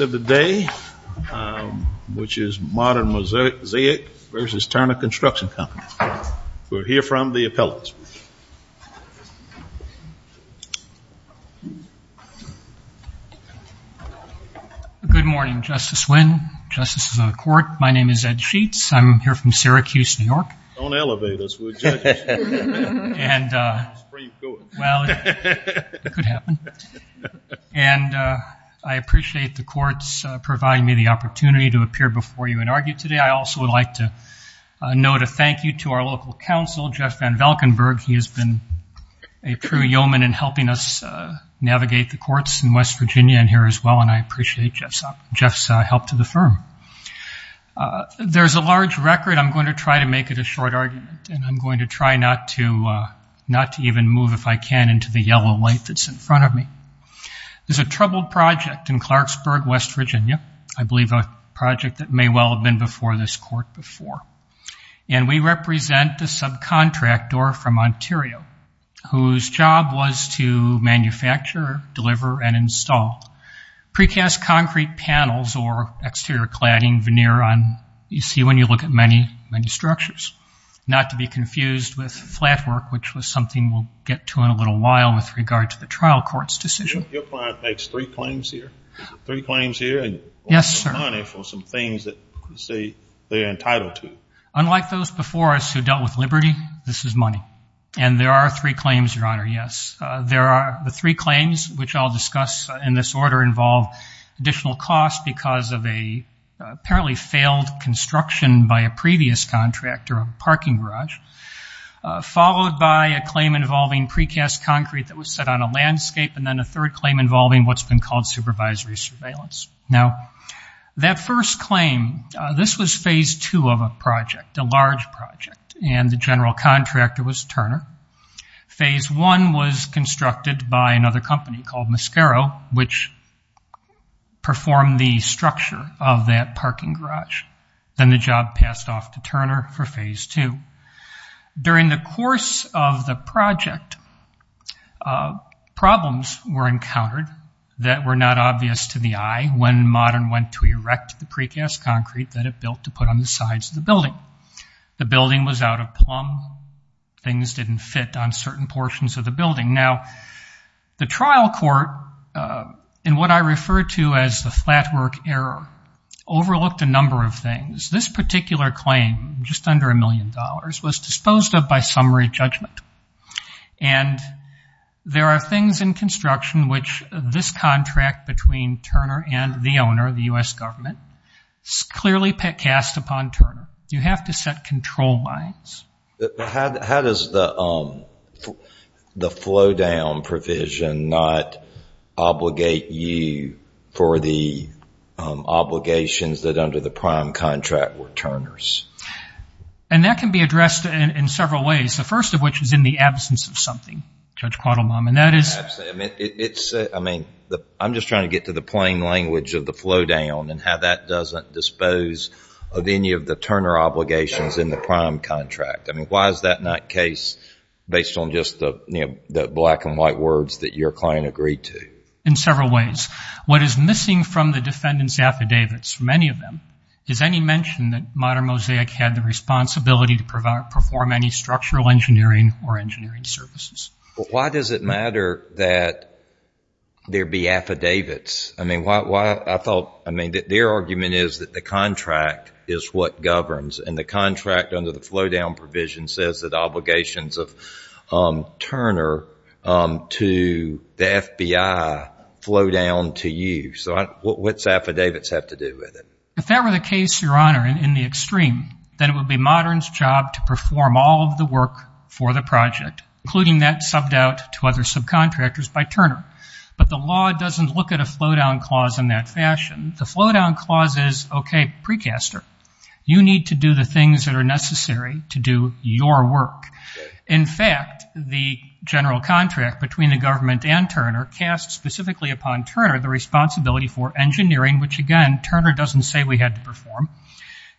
of the day, which is Modern Mosaic v. Turner Construction Company. We'll hear from the appellants. Good morning, Justice Wynn, Justices of the Court. My name is Ed Sheets. I'm here from Syracuse, New York. Don't elevate us, we're judges. Well, it could happen. I appreciate the courts providing me the opportunity to appear before you and argue today. I also would like to note a thank you to our local counsel, Jeff Van Valkenburgh. He has been a true yeoman in helping us navigate the courts in West Virginia and here as well, and I appreciate Jeff's help to the firm. There's a large record. I'm going to try to make it a short argument, and I'm going to try not to even move, if I can, into the yellow light that's in front of me. There's a troubled project in Clarksburg, West Virginia, I believe a project that may well have been before this court before, and we represent the subcontractor from Ontario, whose job was to manufacture, deliver, and install precast concrete panels or exterior cladding, veneer on, you see when you look at many, many structures. Not to be confused with flat work, which was something we'll get to in a little while with regard to the trial court's decision. Your client makes three claims here, three claims here, and some money for some things that you say they're entitled to. Unlike those before us who dealt with liberty, this is money, and there are three claims, Your Honor, yes. There are the three claims, which I'll discuss in this order, involve additional costs because of an apparently failed construction by a previous contractor of a parking garage, followed by a claim involving precast concrete that was set on a landscape, and then a third claim involving what's been called supervisory surveillance. Now, that first claim, this was phase two of a project, a large project, and the general contractor was Turner. Phase one was constructed by another company called Mascaro, which performed the structure of that parking garage. Then the job passed off to Turner for phase two. During the course of the project, problems were encountered that were not obvious to the eye when Modern went to erect the precast concrete that it built to put on the sides of the building. The building was out of plumb. Things didn't fit on certain portions of the building. Now, the trial court, in what I refer to as the flatwork error, overlooked a number of things. This particular claim, just under a million dollars, was disposed of by summary judgment, and there are things in construction which this contract between Turner and the owner, the U.S. government, clearly precast upon Turner. You have to set control lines. How does the flow-down provision not obligate you for the obligations that under the prime contract were Turner's? That can be addressed in several ways, the first of which is in the absence of something, I mean, I'm just trying to get to the plain language of the flow-down and how that doesn't dispose of any of the Turner obligations in the prime contract. I mean, why is that not case based on just the black and white words that your client agreed to? In several ways. What is missing from the defendant's affidavits, many of them, is any mention that Modern Mosaic had the responsibility to perform any structural engineering or engineering services. But why does it matter that there be affidavits? I mean, why, I thought, I mean, their argument is that the contract is what governs, and the contract under the flow-down provision says that obligations of Turner to the FBI flow down to you. So what's affidavits have to do with it? If that were the case, Your Honor, in the extreme, then it would be Modern's job to for the project, including that subbed out to other subcontractors by Turner. But the law doesn't look at a flow-down clause in that fashion. The flow-down clause is, okay, precaster, you need to do the things that are necessary to do your work. In fact, the general contract between the government and Turner casts specifically upon Turner the responsibility for engineering, which, again, Turner doesn't say we had to perform,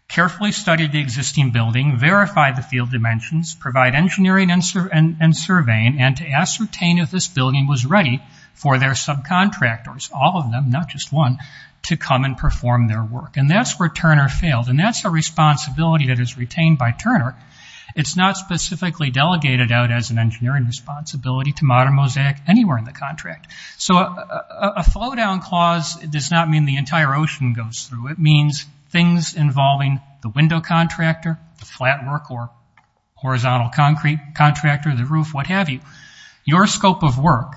carefully study the existing building, verify the field dimensions, provide engineering and surveying, and to ascertain if this building was ready for their subcontractors, all of them, not just one, to come and perform their work. And that's where Turner failed, and that's a responsibility that is retained by Turner. It's not specifically delegated out as an engineering responsibility to Modern Mosaic anywhere in the contract. So a flow-down clause does not mean the entire ocean goes through. It means things involving the window contractor, the flat work or horizontal concrete contractor, the roof, what have you. Your scope of work,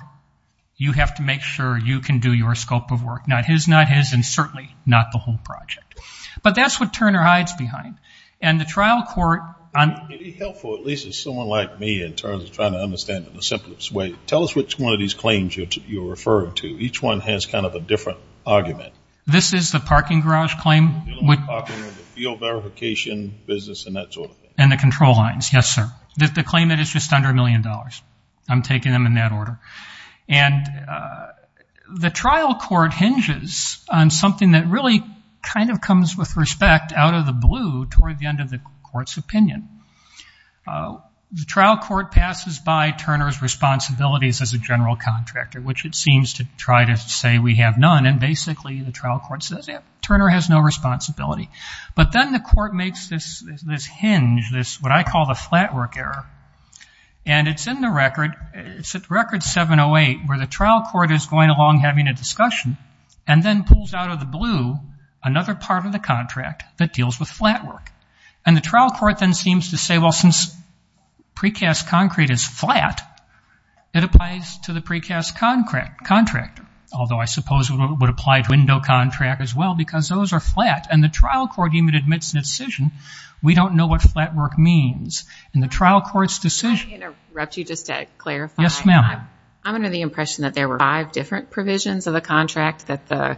you have to make sure you can do your scope of work, not his, not his, and certainly not the whole project. But that's what Turner hides behind. And the trial court on... It would be helpful, at least as someone like me in terms of trying to understand in the simplest way, tell us which one of these claims you're referring to. Each one has kind of a different argument. This is the parking garage claim? Field verification business and that sort of thing. And the control lines, yes, sir. The claimant is just under a million dollars. I'm taking them in that order. And the trial court hinges on something that really kind of comes with respect out of the blue toward the end of the court's opinion. The trial court passes by Turner's responsibilities as a general contractor, which it seems to try to say we have none. And basically the trial court says, yeah, Turner has no responsibility. But then the court makes this hinge, what I call the flat work error. And it's in the record, it's at record 708, where the trial court is going along having a discussion and then pulls out of the blue another part of the contract that deals with flat work. And the trial court then seems to say, well, since precast concrete is flat, it applies to the precast contractor. Although I suppose it would apply to window contract as well, because those are flat. And the trial court even admits in its decision, we don't know what flat work means. And the trial court's decision- May I interrupt you just to clarify? Yes, ma'am. I'm under the impression that there were five different provisions of the contract that the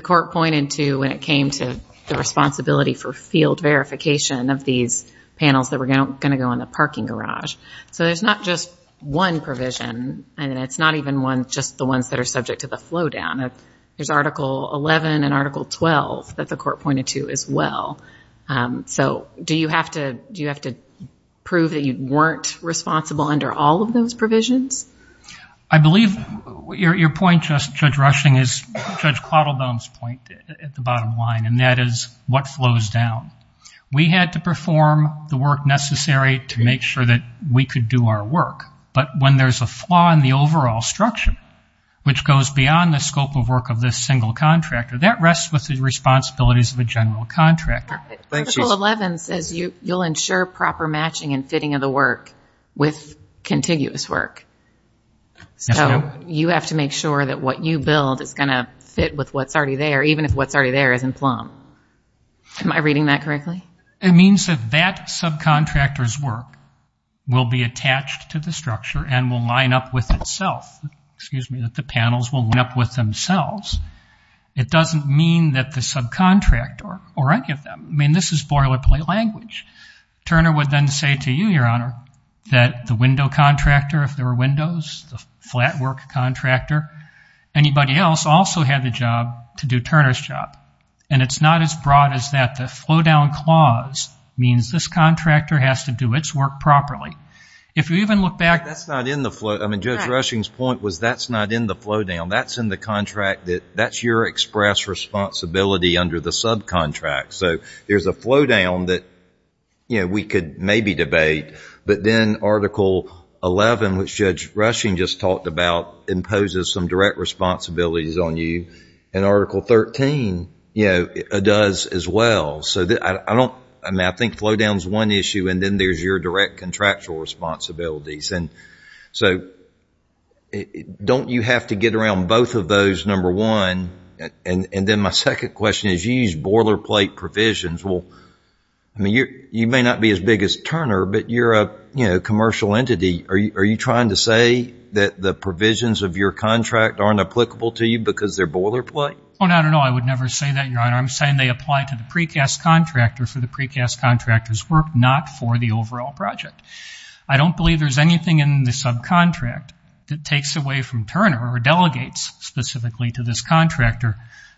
court pointed to when it came to the responsibility for field verification of these panels that were going to go in the parking garage. So there's not just one provision, and it's not even just the ones that are subject to the flow down. There's Article 11 and Article 12 that the court pointed to as well. So do you have to prove that you weren't responsible under all of those provisions? I believe your point, Judge Rushing, is Judge Claudelbaum's point at the bottom line, and that is what flows down. We had to perform the work necessary to make sure we could do our work. But when there's a flaw in the overall structure, which goes beyond the scope of work of this single contractor, that rests with the responsibilities of a general contractor. Article 11 says you'll ensure proper matching and fitting of the work with contiguous work. So you have to make sure that what you build is going to fit with what's already there, even if what's already there isn't plumb. Am I reading that correctly? It means that that subcontractor's work will be attached to the structure and will line up with itself. Excuse me, that the panels will line up with themselves. It doesn't mean that the subcontractor or any of them. I mean, this is boilerplate language. Turner would then say to you, Your Honor, that the window contractor, if there were windows, the flat work contractor, anybody else also had the job to do Turner's job. And it's not as broad as that. The flow down clause means this contractor has to do its work properly. If you even look back... That's not in the flow. I mean, Judge Rushing's point was that's not in the flow down. That's in the contract that that's your express responsibility under the subcontract. So there's a flow down that we could maybe debate. But then Article 11, which Judge Rushing just talked about, imposes some direct responsibilities on you. And Article 13 does as well. So I think flow down is one issue. And then there's your direct contractual responsibilities. And so don't you have to get around both of those, number one? And then my second question is you use boilerplate provisions. Well, I mean, you may not be as big as Turner, but you're a commercial entity. Are you trying to say that the provisions of your contract aren't applicable to you because they're boilerplate? Oh, no, no, no. I would never say that, Your Honor. I'm saying they apply to the precast contractor for the precast contractor's work, not for the overall project. I don't believe there's anything in the subcontract that takes away from Turner or delegates specifically to this contractor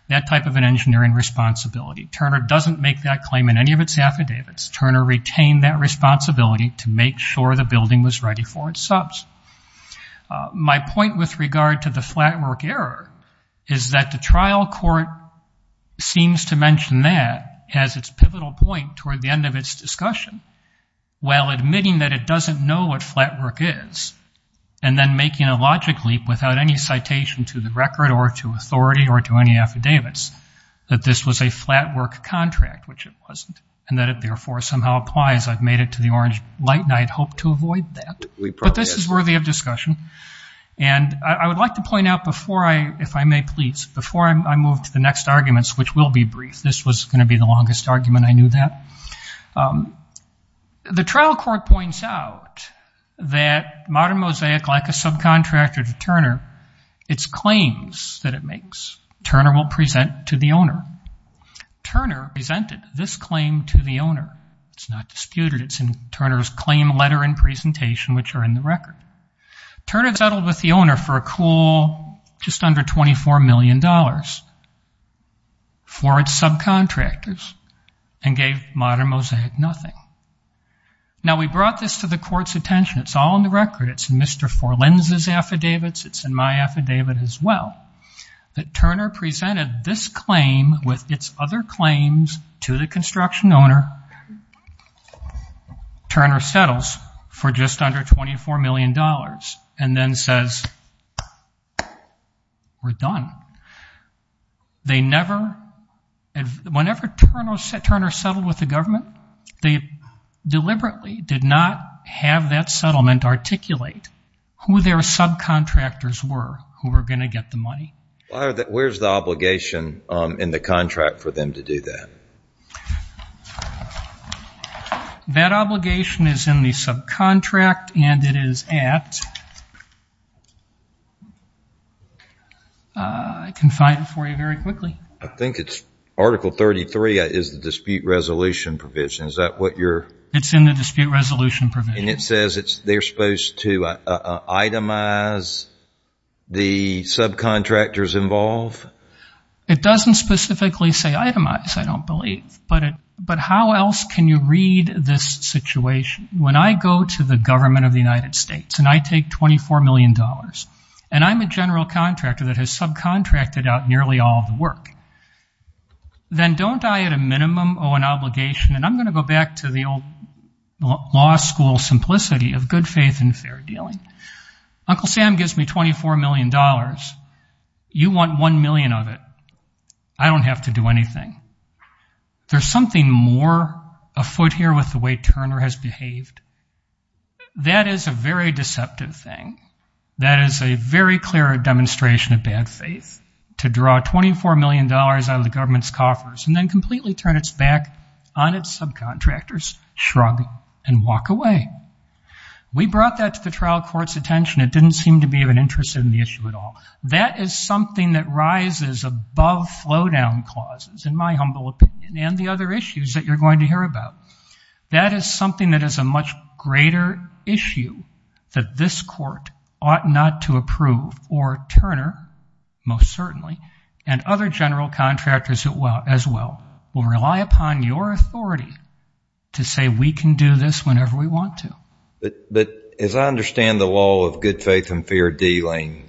that type of an engineering responsibility. Turner doesn't make that claim in any of its affidavits. Turner retained that responsibility to make sure the building was ready for its subs. My point with regard to the flatwork error is that the that has its pivotal point toward the end of its discussion while admitting that it doesn't know what flatwork is and then making a logic leap without any citation to the record or to authority or to any affidavits that this was a flatwork contract, which it wasn't, and that it therefore somehow applies. I've made it to the orange light, and I had hoped to avoid that. But this is worthy of discussion. And I would like to point out before I, if I may please, before I move to the longest argument I knew that. The trial court points out that Modern Mosaic, like a subcontractor to Turner, its claims that it makes, Turner will present to the owner. Turner presented this claim to the owner. It's not disputed. It's in Turner's claim letter and presentation, which are in the and gave Modern Mosaic nothing. Now, we brought this to the court's attention. It's all in the record. It's in Mr. Forlins' affidavits. It's in my affidavit as well. But Turner presented this claim with its other claims to the construction owner. Turner settles for just under $24 million and then says, we're done. They never, whenever Turner settled with the government, they deliberately did not have that settlement articulate who their subcontractors were who were going to get the money. Where's the obligation in the contract for them to do that? That obligation is in the subcontract and it is at, I can find it for you very quickly. I think it's Article 33 is the dispute resolution provision. Is that what you're? It's in the dispute resolution provision. And it says they're supposed to itemize the subcontractors involved? It doesn't specifically say itemize, I don't believe. But how else can you read this situation? When I go to the government of the United States and I take $24 million and I'm a general contractor that has subcontracted out nearly all of the work, then don't I at a minimum owe an obligation? And I'm going to go back to the old law school simplicity of good faith and fair dealing. Uncle Sam gives me $24 million. You want $1 million of it. I don't have to do anything. There's something more afoot here with the way Turner has behaved. That is a very deceptive thing. That is a very clear demonstration of bad faith to draw $24 million out of the government's coffers and then completely turn its back on its subcontractors, shrug and walk away. We brought that to the trial court's attention. It didn't seem to be of an interest in the issue at all. That is something that rises above flow-down clauses, in my humble opinion, and the other issues that you're going to hear about. That is something that is a much greater issue that this court ought not to approve or Turner, most certainly, and other general contractors as well, will rely upon your authority to say, we can do this whenever we want to. But as I understand the law of good faith and fair dealing,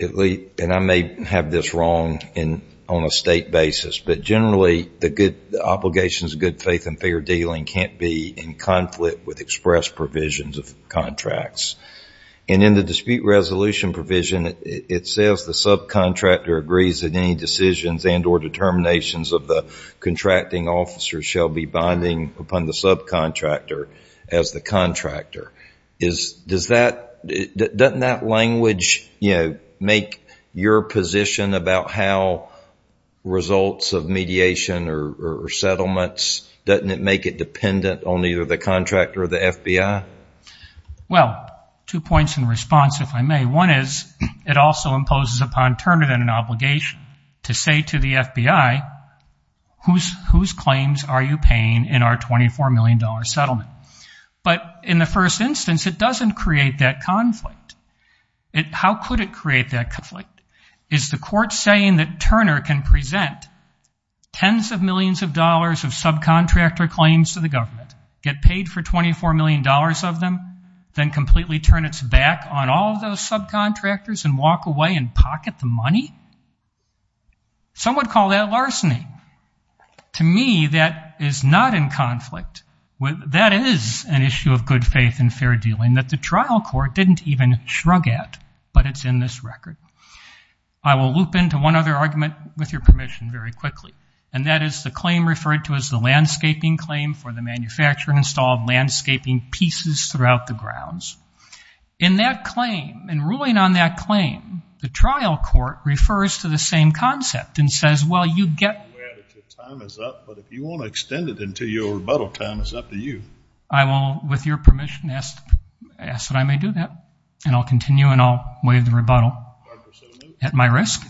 and I may have this wrong on a state basis, but generally the obligations of good faith and fair dealing can't be in conflict with express provisions of contracts. And in the dispute resolution provision, it says the subcontractor agrees that any decisions and determinations of the contracting officer shall be binding upon the subcontractor as the contractor. Doesn't that language make your position about how results of mediation or settlements, doesn't it make it dependent on either the contractor or the FBI? Well, two points in response, if I may. One is, it also imposes upon Turner an obligation to say to the FBI, whose claims are you paying in our $24 million settlement? But in the first instance, it doesn't create that conflict. How could it create that conflict? Is the court saying that Turner can present tens of millions of dollars of subcontractor claims to the government, get paid for $24 million of them, then completely turn its back on all those subcontractors and walk away and pocket the money? Some would call that larceny. To me, that is not in conflict. That is an issue of good faith and fair dealing that the trial court didn't even shrug at, but it's in this record. I will loop into one other argument, with your permission, very quickly, and that is the claim referred to as the landscaping claim for the manufacture and install of landscaping pieces throughout the grounds. In that claim, in ruling on that claim, the trial court refers to the same concept and says, well, you get aware that your time is up, but if you want to extend it until your rebuttal time is up to you. I will, with your permission, ask that I may do that, and I'll continue and I'll give the rebuttal at my risk.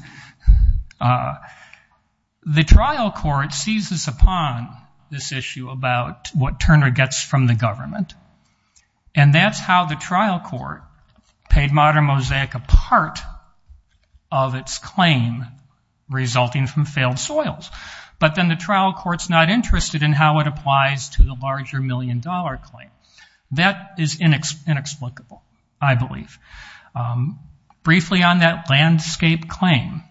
The trial court seizes upon this issue about what Turner gets from the government, and that's how the trial court paid Modern Mosaic a part of its claim resulting from failed soils, but then the trial court's not interested in how it applies to the briefly on that landscape claim.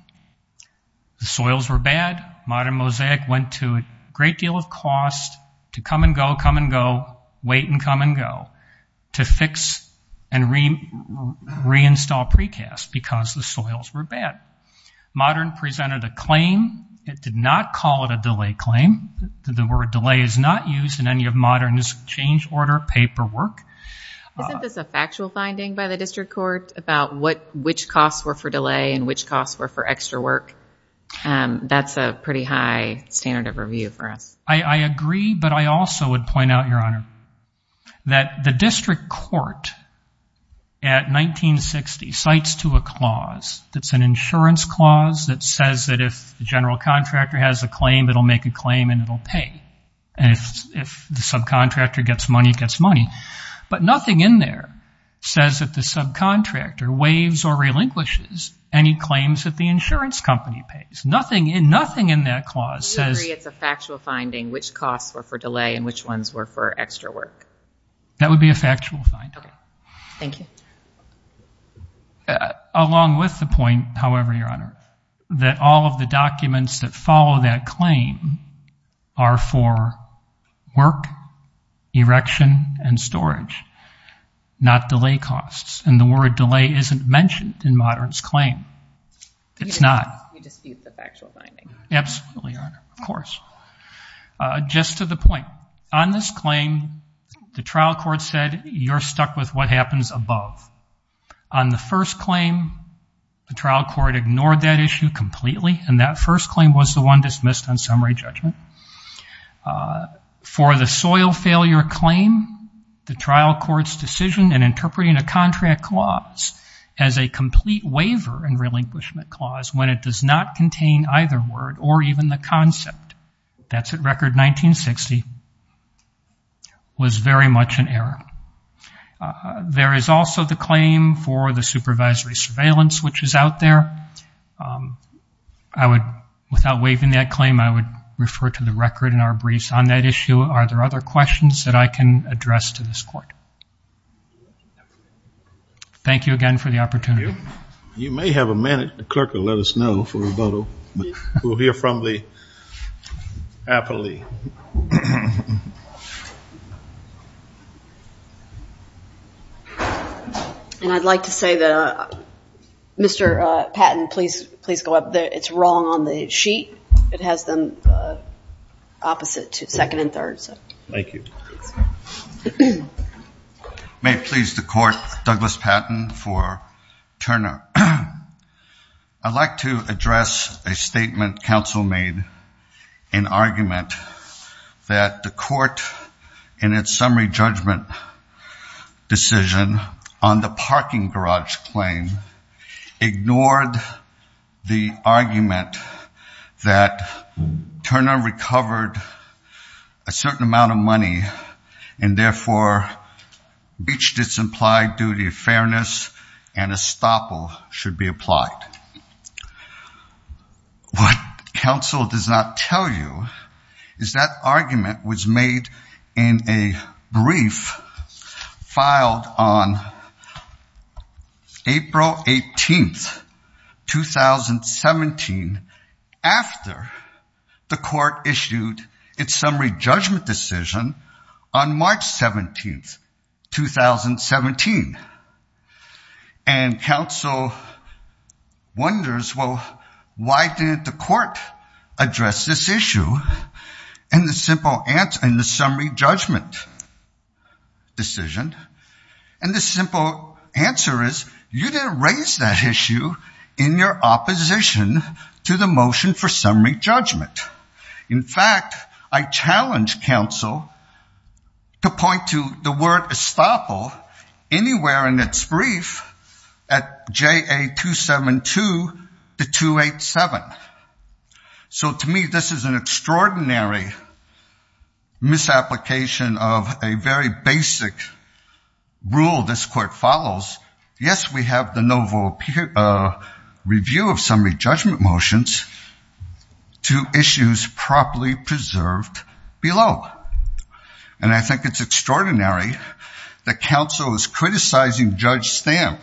The soils were bad. Modern Mosaic went to a great deal of cost to come and go, come and go, wait and come and go, to fix and reinstall precast because the soils were bad. Modern presented a claim. It did not call it a delay claim. The word delay is not used in any of Modern's change order paperwork. Isn't this a factual finding by the district court about which costs were for delay and which costs were for extra work? That's a pretty high standard of review for us. I agree, but I also would point out, Your Honor, that the district court at 1960 cites to a clause that's an insurance clause that says that if the general contractor has a claim, it'll make a claim and it'll pay, and if the subcontractor gets money, it gets money, but nothing in there says that the subcontractor waives or relinquishes any claims that the insurance company pays. Nothing in that clause says... You agree it's a factual finding which costs were for delay and which ones were for extra work? That would be a factual finding. Thank you. Along with the point, however, Your Honor, that all of the documents that follow that claim are for work, erection, and storage, not delay costs, and the word delay isn't mentioned in Modern's claim. It's not. You dispute the factual finding. Absolutely, Your Honor. Of course. Just to the point, on this claim, the trial court said you're stuck with what happens above. On the first claim, the trial court ignored that issue completely, and that first claim was the undismissed on summary judgment. For the soil failure claim, the trial court's decision in interpreting a contract clause as a complete waiver and relinquishment clause when it does not contain either word or even the concept, that's at record 1960, was very much an error. There is also the claim for the supervisory surveillance which is out there. I would, without waiving that claim, I would refer to the record in our briefs on that issue. Are there other questions that I can address to this court? Thank you again for the opportunity. You may have a minute. The clerk will let us know for rebuttal. We'll hear from the appellee. And I'd like to say that, Mr. Patton, please go up there. It's wrong on the sheet. It has them opposite to second and third. Thank you. May it please the court, Douglas Patton for Turner. I'd like to address a statement counsel made in argument that the court in its summary judgment decision on the parking garage claim ignored the argument that Turner recovered a certain amount of money and therefore reached its implied duty of fairness and estoppel should be applied. What counsel does not tell you is that argument was made in a brief filed on April 18th, 2017 after the court issued its summary judgment decision on March 17th, 2017. And counsel wonders, well, why didn't the court address this issue in the summary judgment decision? And the simple answer is you didn't raise that issue in your opposition to the motion for summary judgment. In fact, I challenge counsel to point to the word estoppel anywhere in its brief at JA 272 to 287. So to me, this is an extraordinary misapplication of a very basic rule this court follows. Yes, we have the novel a review of summary judgment motions to issues properly preserved below. And I think it's extraordinary that counsel is criticizing Judge Stamp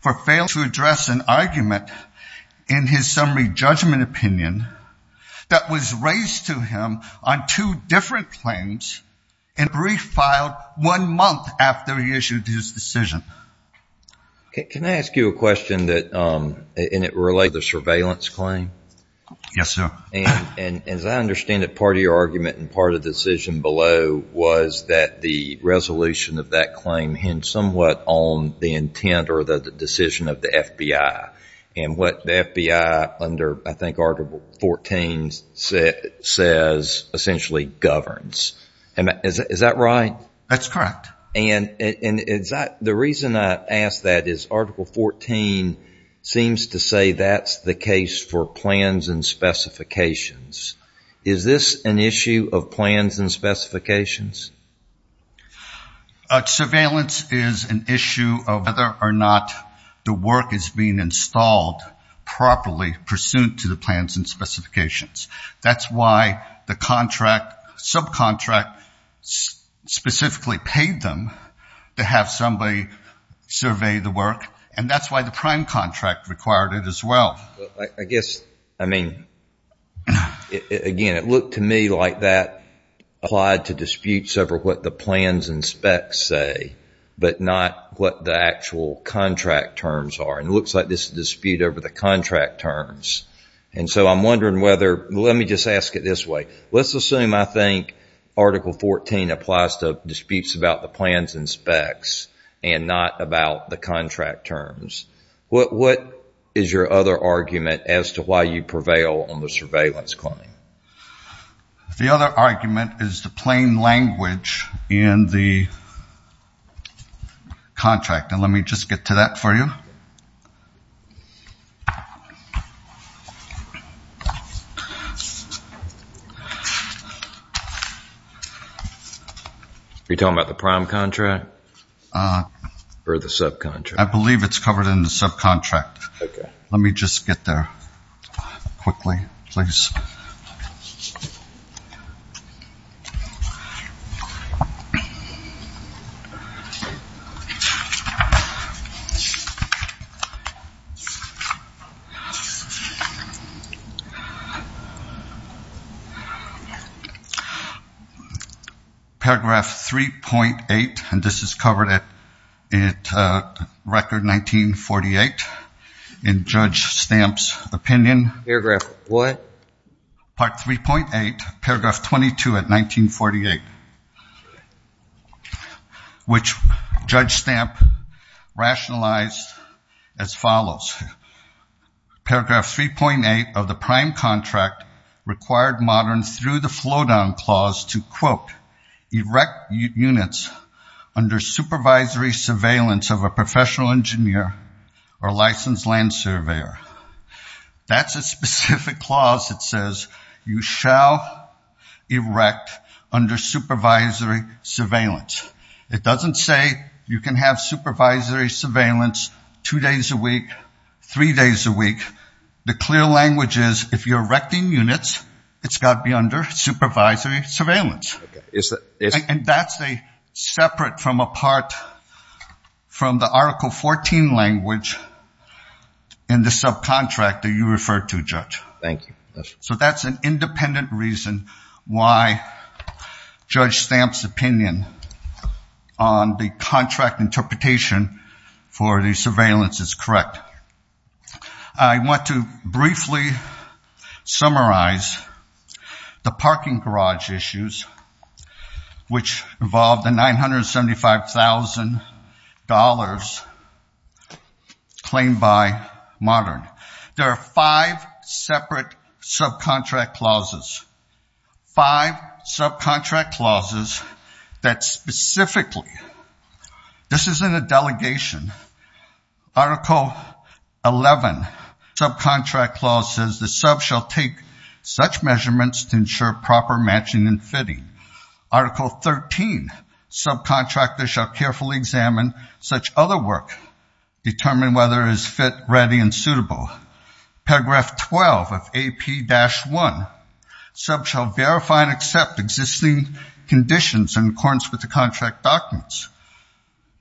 for failing to address an argument in his summary judgment opinion that was raised to him on two different claims in a brief filed one month after he issued his decision. Can I ask you a question that relates to the surveillance claim? Yes, sir. And as I understand it, part of your argument and part of the decision below was that the resolution of that claim hints somewhat on the intent or the decision of the FBI. And what the FBI under I think Article 14 says essentially governs. Is that right? That's correct. And the reason I ask that is Article 14 seems to say that's the case for plans and specifications. Is this an issue of plans and specifications? A surveillance is an issue of whether or not the work is being installed properly pursuant to the plans and specifications. That's why the contract subcontract specifically paid them to have somebody survey the work. And that's why the prime contract required it as well. I guess, I mean, again, it looked to me like that applied to disputes over what the plans and specs say, but not what the actual contract terms are. And it looks like this dispute over the contract terms. And so I'm wondering whether, let me just ask it this way. Let's assume I think Article 14 applies to disputes about the plans and specs and not about the contract terms. What is your other argument as to why you prevail on the surveillance claim? The other argument is the plain language in the contract. And let me just get to that for you. You're talking about the prime contract? Or the subcontract? I believe it's covered in the subcontract. Let me just get there quickly, please. Okay. Paragraph 3.8, and this is covered at record 1948 in Judge Stamp's opinion. Paragraph what? Part 3.8, paragraph 22 at 1948. Okay. Which Judge Stamp rationalized as follows. Paragraph 3.8 of the prime contract required Modern, through the flow-down clause, to, quote, erect units under supervisory surveillance of a professional engineer or licensed land surveyor. That's a specific clause that says you shall erect under supervisory surveillance. It doesn't say you can have supervisory surveillance two days a week, three days a week. The clear language is if you're erecting units, it's got to be under supervisory surveillance. And that's a separate from a part from the Article 14 language in the subcontract that you referred to, Judge. Thank you. So that's an independent reason why Judge Stamp's opinion on the contract interpretation for the surveillance is correct. I want to briefly summarize the parking garage issues, which involved the $975,000 claimed by Modern. There are five separate subcontract clauses. Five subcontract clauses that specifically, this isn't a delegation. Article 11 subcontract clause says the sub shall take such measurements to ensure proper matching and fitting. Article 13, subcontractors shall carefully examine such other work, determine whether it is fit, ready, and suitable. Paragraph 12 of AP-1, sub shall verify and accept existing conditions in accordance with the contract documents.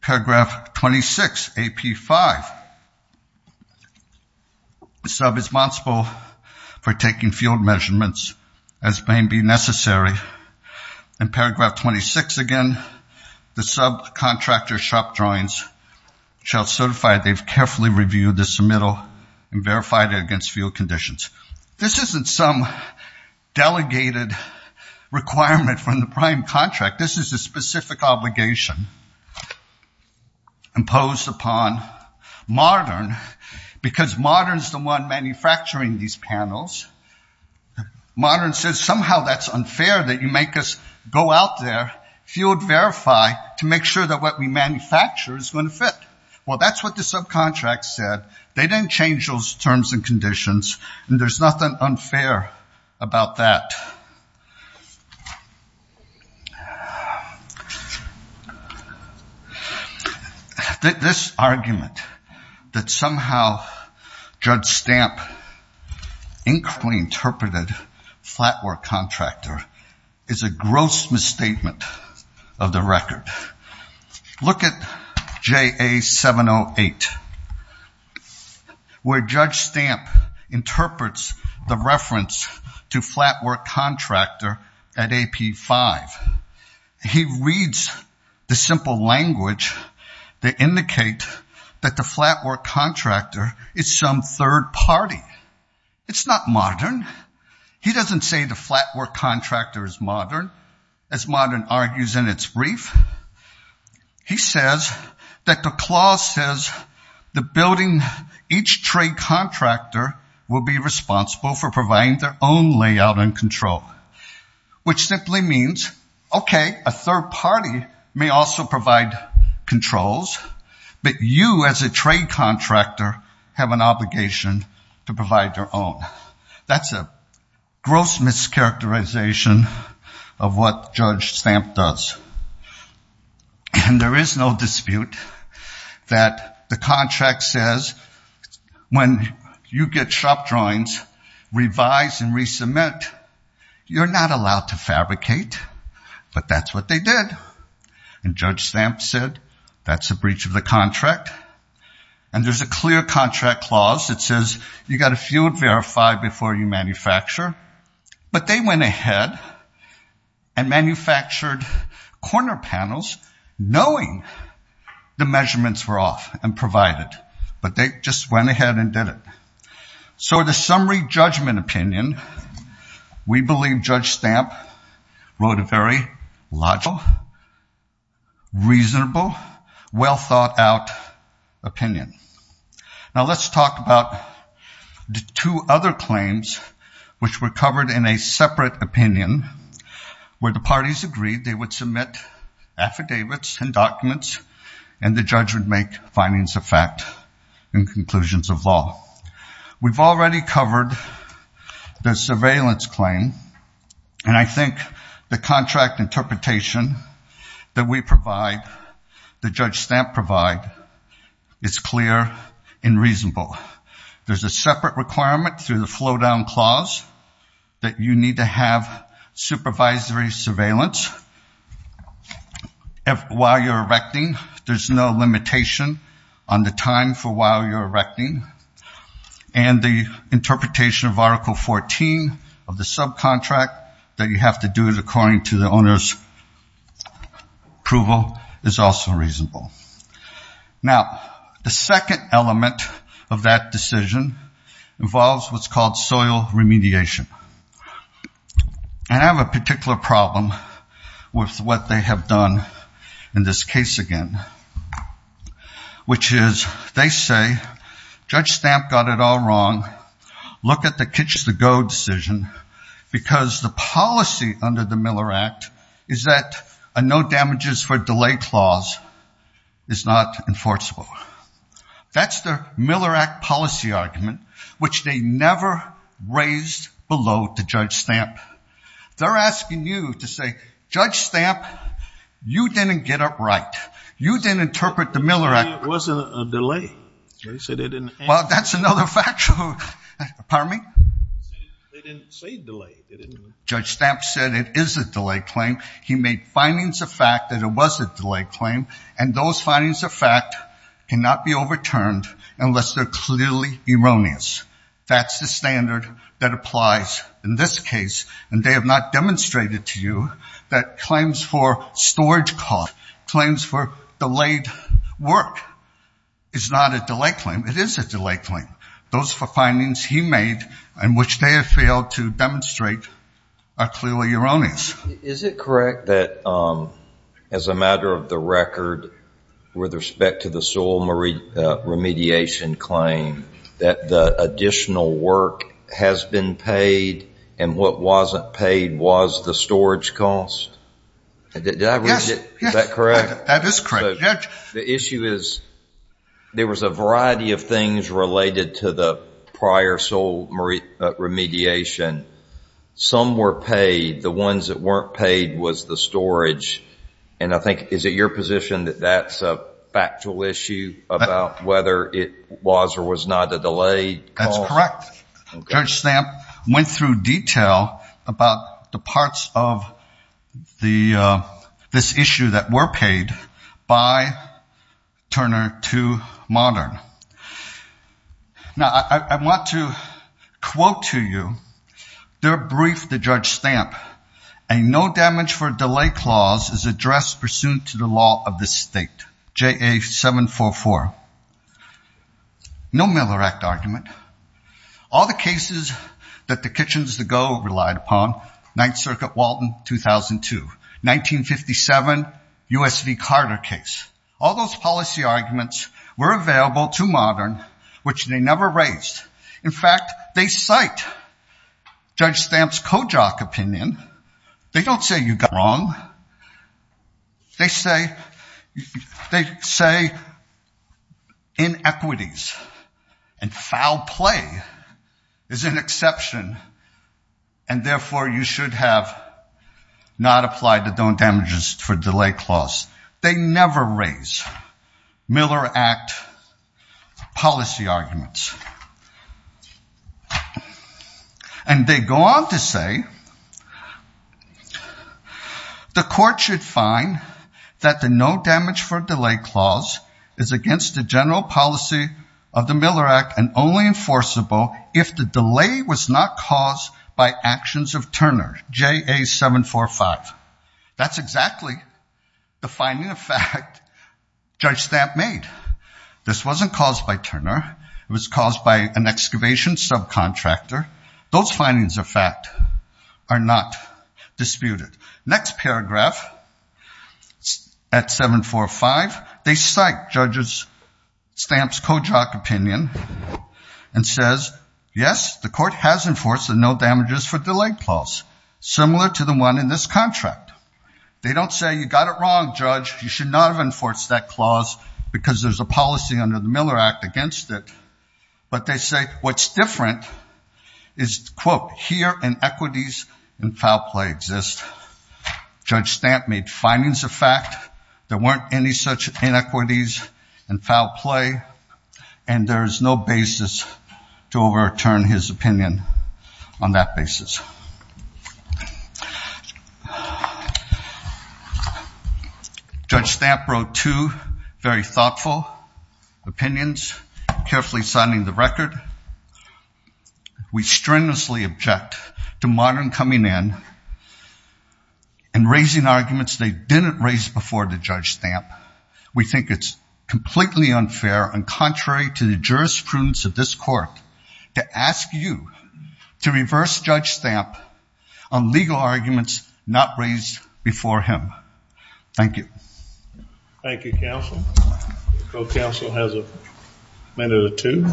Paragraph 26 AP-5, sub is responsible for taking field measurements as may be necessary. And paragraph 26 again, the subcontractor shop drawings shall certify they've carefully reviewed the submittal and verified it against field conditions. This isn't some delegated requirement from the prime contract. This is a specific obligation imposed upon Modern, because Modern's the one manufacturing these panels. Modern says somehow that's unfair that you make us go out there, field verify to make sure that what we manufacture is going to fit. Well, that's what the subcontract said. They didn't change those terms and conditions, and there's nothing unfair about that. Now, this argument that somehow Judge Stamp incorrectly interpreted Flatwork Contractor is a gross misstatement of the record. Look at JA-708, where Judge Stamp interprets the reference to Flatwork Contractor at AP-5. He reads the simple language that indicate that the Flatwork Contractor is some third party. It's not Modern. He doesn't say the Flatwork Contractor is Modern, as Modern argues in its brief. He says that the clause says the building each trade contractor will be responsible for providing their own layout and control, which simply means, okay, a third party may also provide controls, but you as a trade contractor have an obligation to provide your own. That's a gross mischaracterization of what Judge Stamp does. And there is no dispute that the contract says when you get shop drawings, revise and resubmit, you're not allowed to fabricate. But that's what they did. And Judge Stamp said that's a breach of the contract. And there's a clear contract clause that says you got to field verify before you manufacture. But they went ahead and manufactured corner panels, knowing the measurements were off and provided. But they just went ahead and did it. So the summary judgment opinion, we believe Judge Stamp wrote a very logical, reasonable, well thought out opinion. Now let's talk about the two other claims, which were covered in a separate opinion, where the parties agreed they would submit affidavits and documents, and the judge would make findings of fact and conclusions of law. We've already covered the surveillance claim. And I think the contract interpretation that we provide, that Judge Stamp provide, is clear and reasonable. There's a separate requirement through the flow down clause that you need to have supervisory surveillance while you're erecting. There's no limitation on the time for while you're erecting. And the interpretation of Article 14 of the subcontract that you have to do it according to the owner's approval is also reasonable. Now, the second element of that decision involves what's called soil remediation. And I have a particular problem with what they have done in this case again, which is, they say, Judge Stamp got it all wrong. Look at the catch the go decision, because the policy under the Miller Act is that a no damages for delay clause is not enforceable. That's the Miller Act policy argument, which they never raised below to Judge Stamp. They're asking you to say, Judge Stamp, you didn't get it right. You didn't interpret the Miller Act. It wasn't a delay. Well, that's another fact. Pardon me? They didn't say delay. Judge Stamp said it is a delay claim. He made findings of fact that it was a delay claim. And those findings of fact cannot be overturned unless they're clearly erroneous. That's the standard that applies in this case. And they have not demonstrated to you that claims for storage cost, claims for delayed work is not a delay claim. It is a delay claim. Those four findings he made and which they have failed to demonstrate are clearly erroneous. Is it correct that as a matter of the record, with respect to the soil remediation claim, that the additional work has been paid and what wasn't paid was the storage cost? Did I read it? Is that correct? That is correct, Judge. The issue is there was a variety of things related to the prior soil remediation. Some were paid. The ones that weren't paid was the storage. And I think, is it your position that that's a factual issue about whether it was or was not a delay? That's correct. Judge Stamp went through detail about the parts of this issue that were paid by Turner to Modern. Now, I want to quote to you their brief that Judge Stamp, a no damage for delay clause is addressed pursuant to the law of the state, JA 744. No Miller Act argument. All the cases that the Kitchens to Go relied upon, 9th Circuit Walton 2002, 1957, USV Carter case. All those policy arguments were available to Modern, which they never raised. In fact, they cite Judge Stamp's Kojak opinion. They don't say you got it wrong. They say inequities and foul play is an exception. And therefore, you should have not applied the no damages for delay clause. They never raise Miller Act policy arguments. And they go on to say, the court should find that the no damage for delay clause is against the general policy of the Miller Act and only enforceable if the delay was not caused by actions of Turner, JA 745. That's exactly the finding of fact Judge Stamp made. This wasn't caused by Turner. It was caused by an excavation subcontractor. Those findings of fact are not disputed. Next paragraph at 745, they cite Judge Stamp's Kojak opinion and says, yes, the court has enforced the no damages for delay clause, similar to the one in this contract. They don't say you got it wrong, Judge. You should not have enforced that clause because there's a policy under the Miller Act against it. But they say what's different is, quote, here inequities and foul play exist. Judge Stamp made findings of fact. There weren't any such inequities and foul play. And there is no basis to overturn his opinion on that basis. Judge Stamp wrote two very thoughtful opinions, carefully signing the record. We strenuously object to Martin coming in and raising arguments they didn't raise before the Judge Stamp. We think it's completely unfair and contrary to the jurisprudence of this court on legal arguments not raised before him. Thank you. Thank you, counsel. Pro counsel has a minute or two.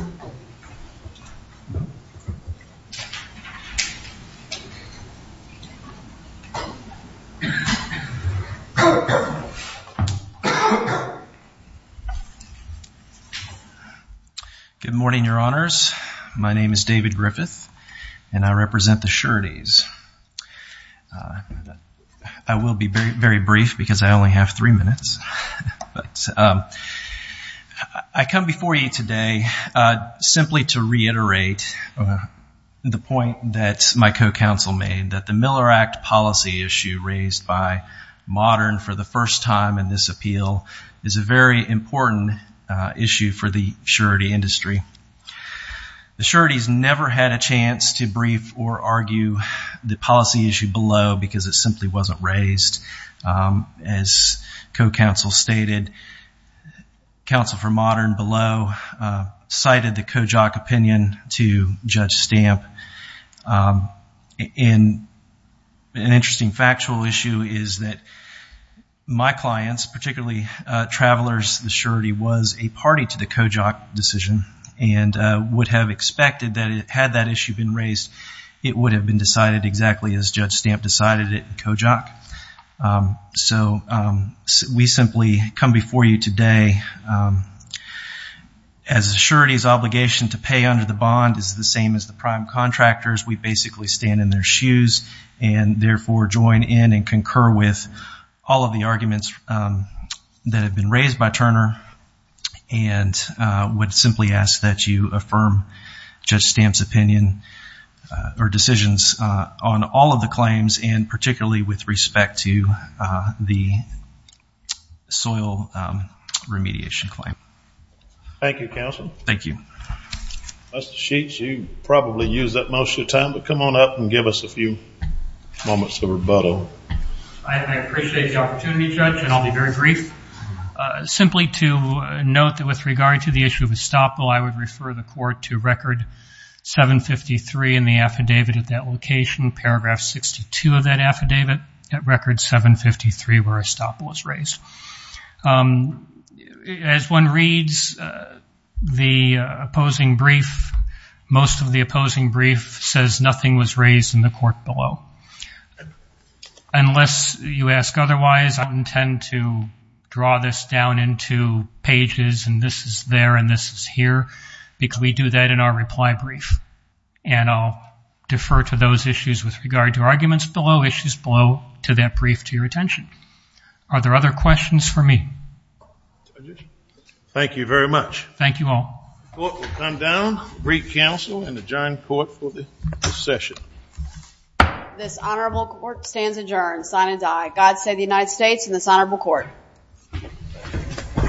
Good morning, your honors. My name is David Griffith. And I represent the sureties. I will be very brief because I only have three minutes. But I come before you today simply to reiterate the point that my co-counsel made, that the Miller Act policy issue raised by Modern for the first time in this appeal is a very important issue for the surety industry. The surety's never had a chance to brief or argue the policy issue below because it simply wasn't raised. As co-counsel stated, counsel for Modern below cited the Kojok opinion to Judge Stamp. And an interesting factual issue is that my clients, particularly travelers, the surety was a party to the Kojok decision. And would have expected that had that issue been raised, it would have been decided exactly as Judge Stamp decided it in Kojok. So we simply come before you today as a surety's obligation to pay under the bond is the same as the prime contractors. We basically stand in their shoes and therefore join in and concur with all of the arguments that have been raised by Turner. And would simply ask that you affirm Judge Stamp's opinion or decisions on all of the claims and particularly with respect to the soil remediation claim. Thank you, counsel. Thank you. Mr. Sheets, you probably use that most of the time, but come on up and give us a few moments of rebuttal. I appreciate the opportunity, Judge, and I'll be very brief. Simply to note that with regard to the issue of estoppel, I would refer the court to record 753 in the affidavit at that location, paragraph 62 of that affidavit at record 753 where estoppel was raised. As one reads the opposing brief, most of the opposing brief says nothing was raised in the court below. Unless you ask otherwise, I intend to draw this down into pages and this is there and this is here because we do that in our reply brief. And I'll defer to those issues with regard to arguments below, issues below to that brief to your attention. Are there other questions for me? Thank you very much. Thank you all. The court will come down, read counsel and adjourn court for the session. This honorable court stands adjourned. Sign and die. God save the United States and this honorable court.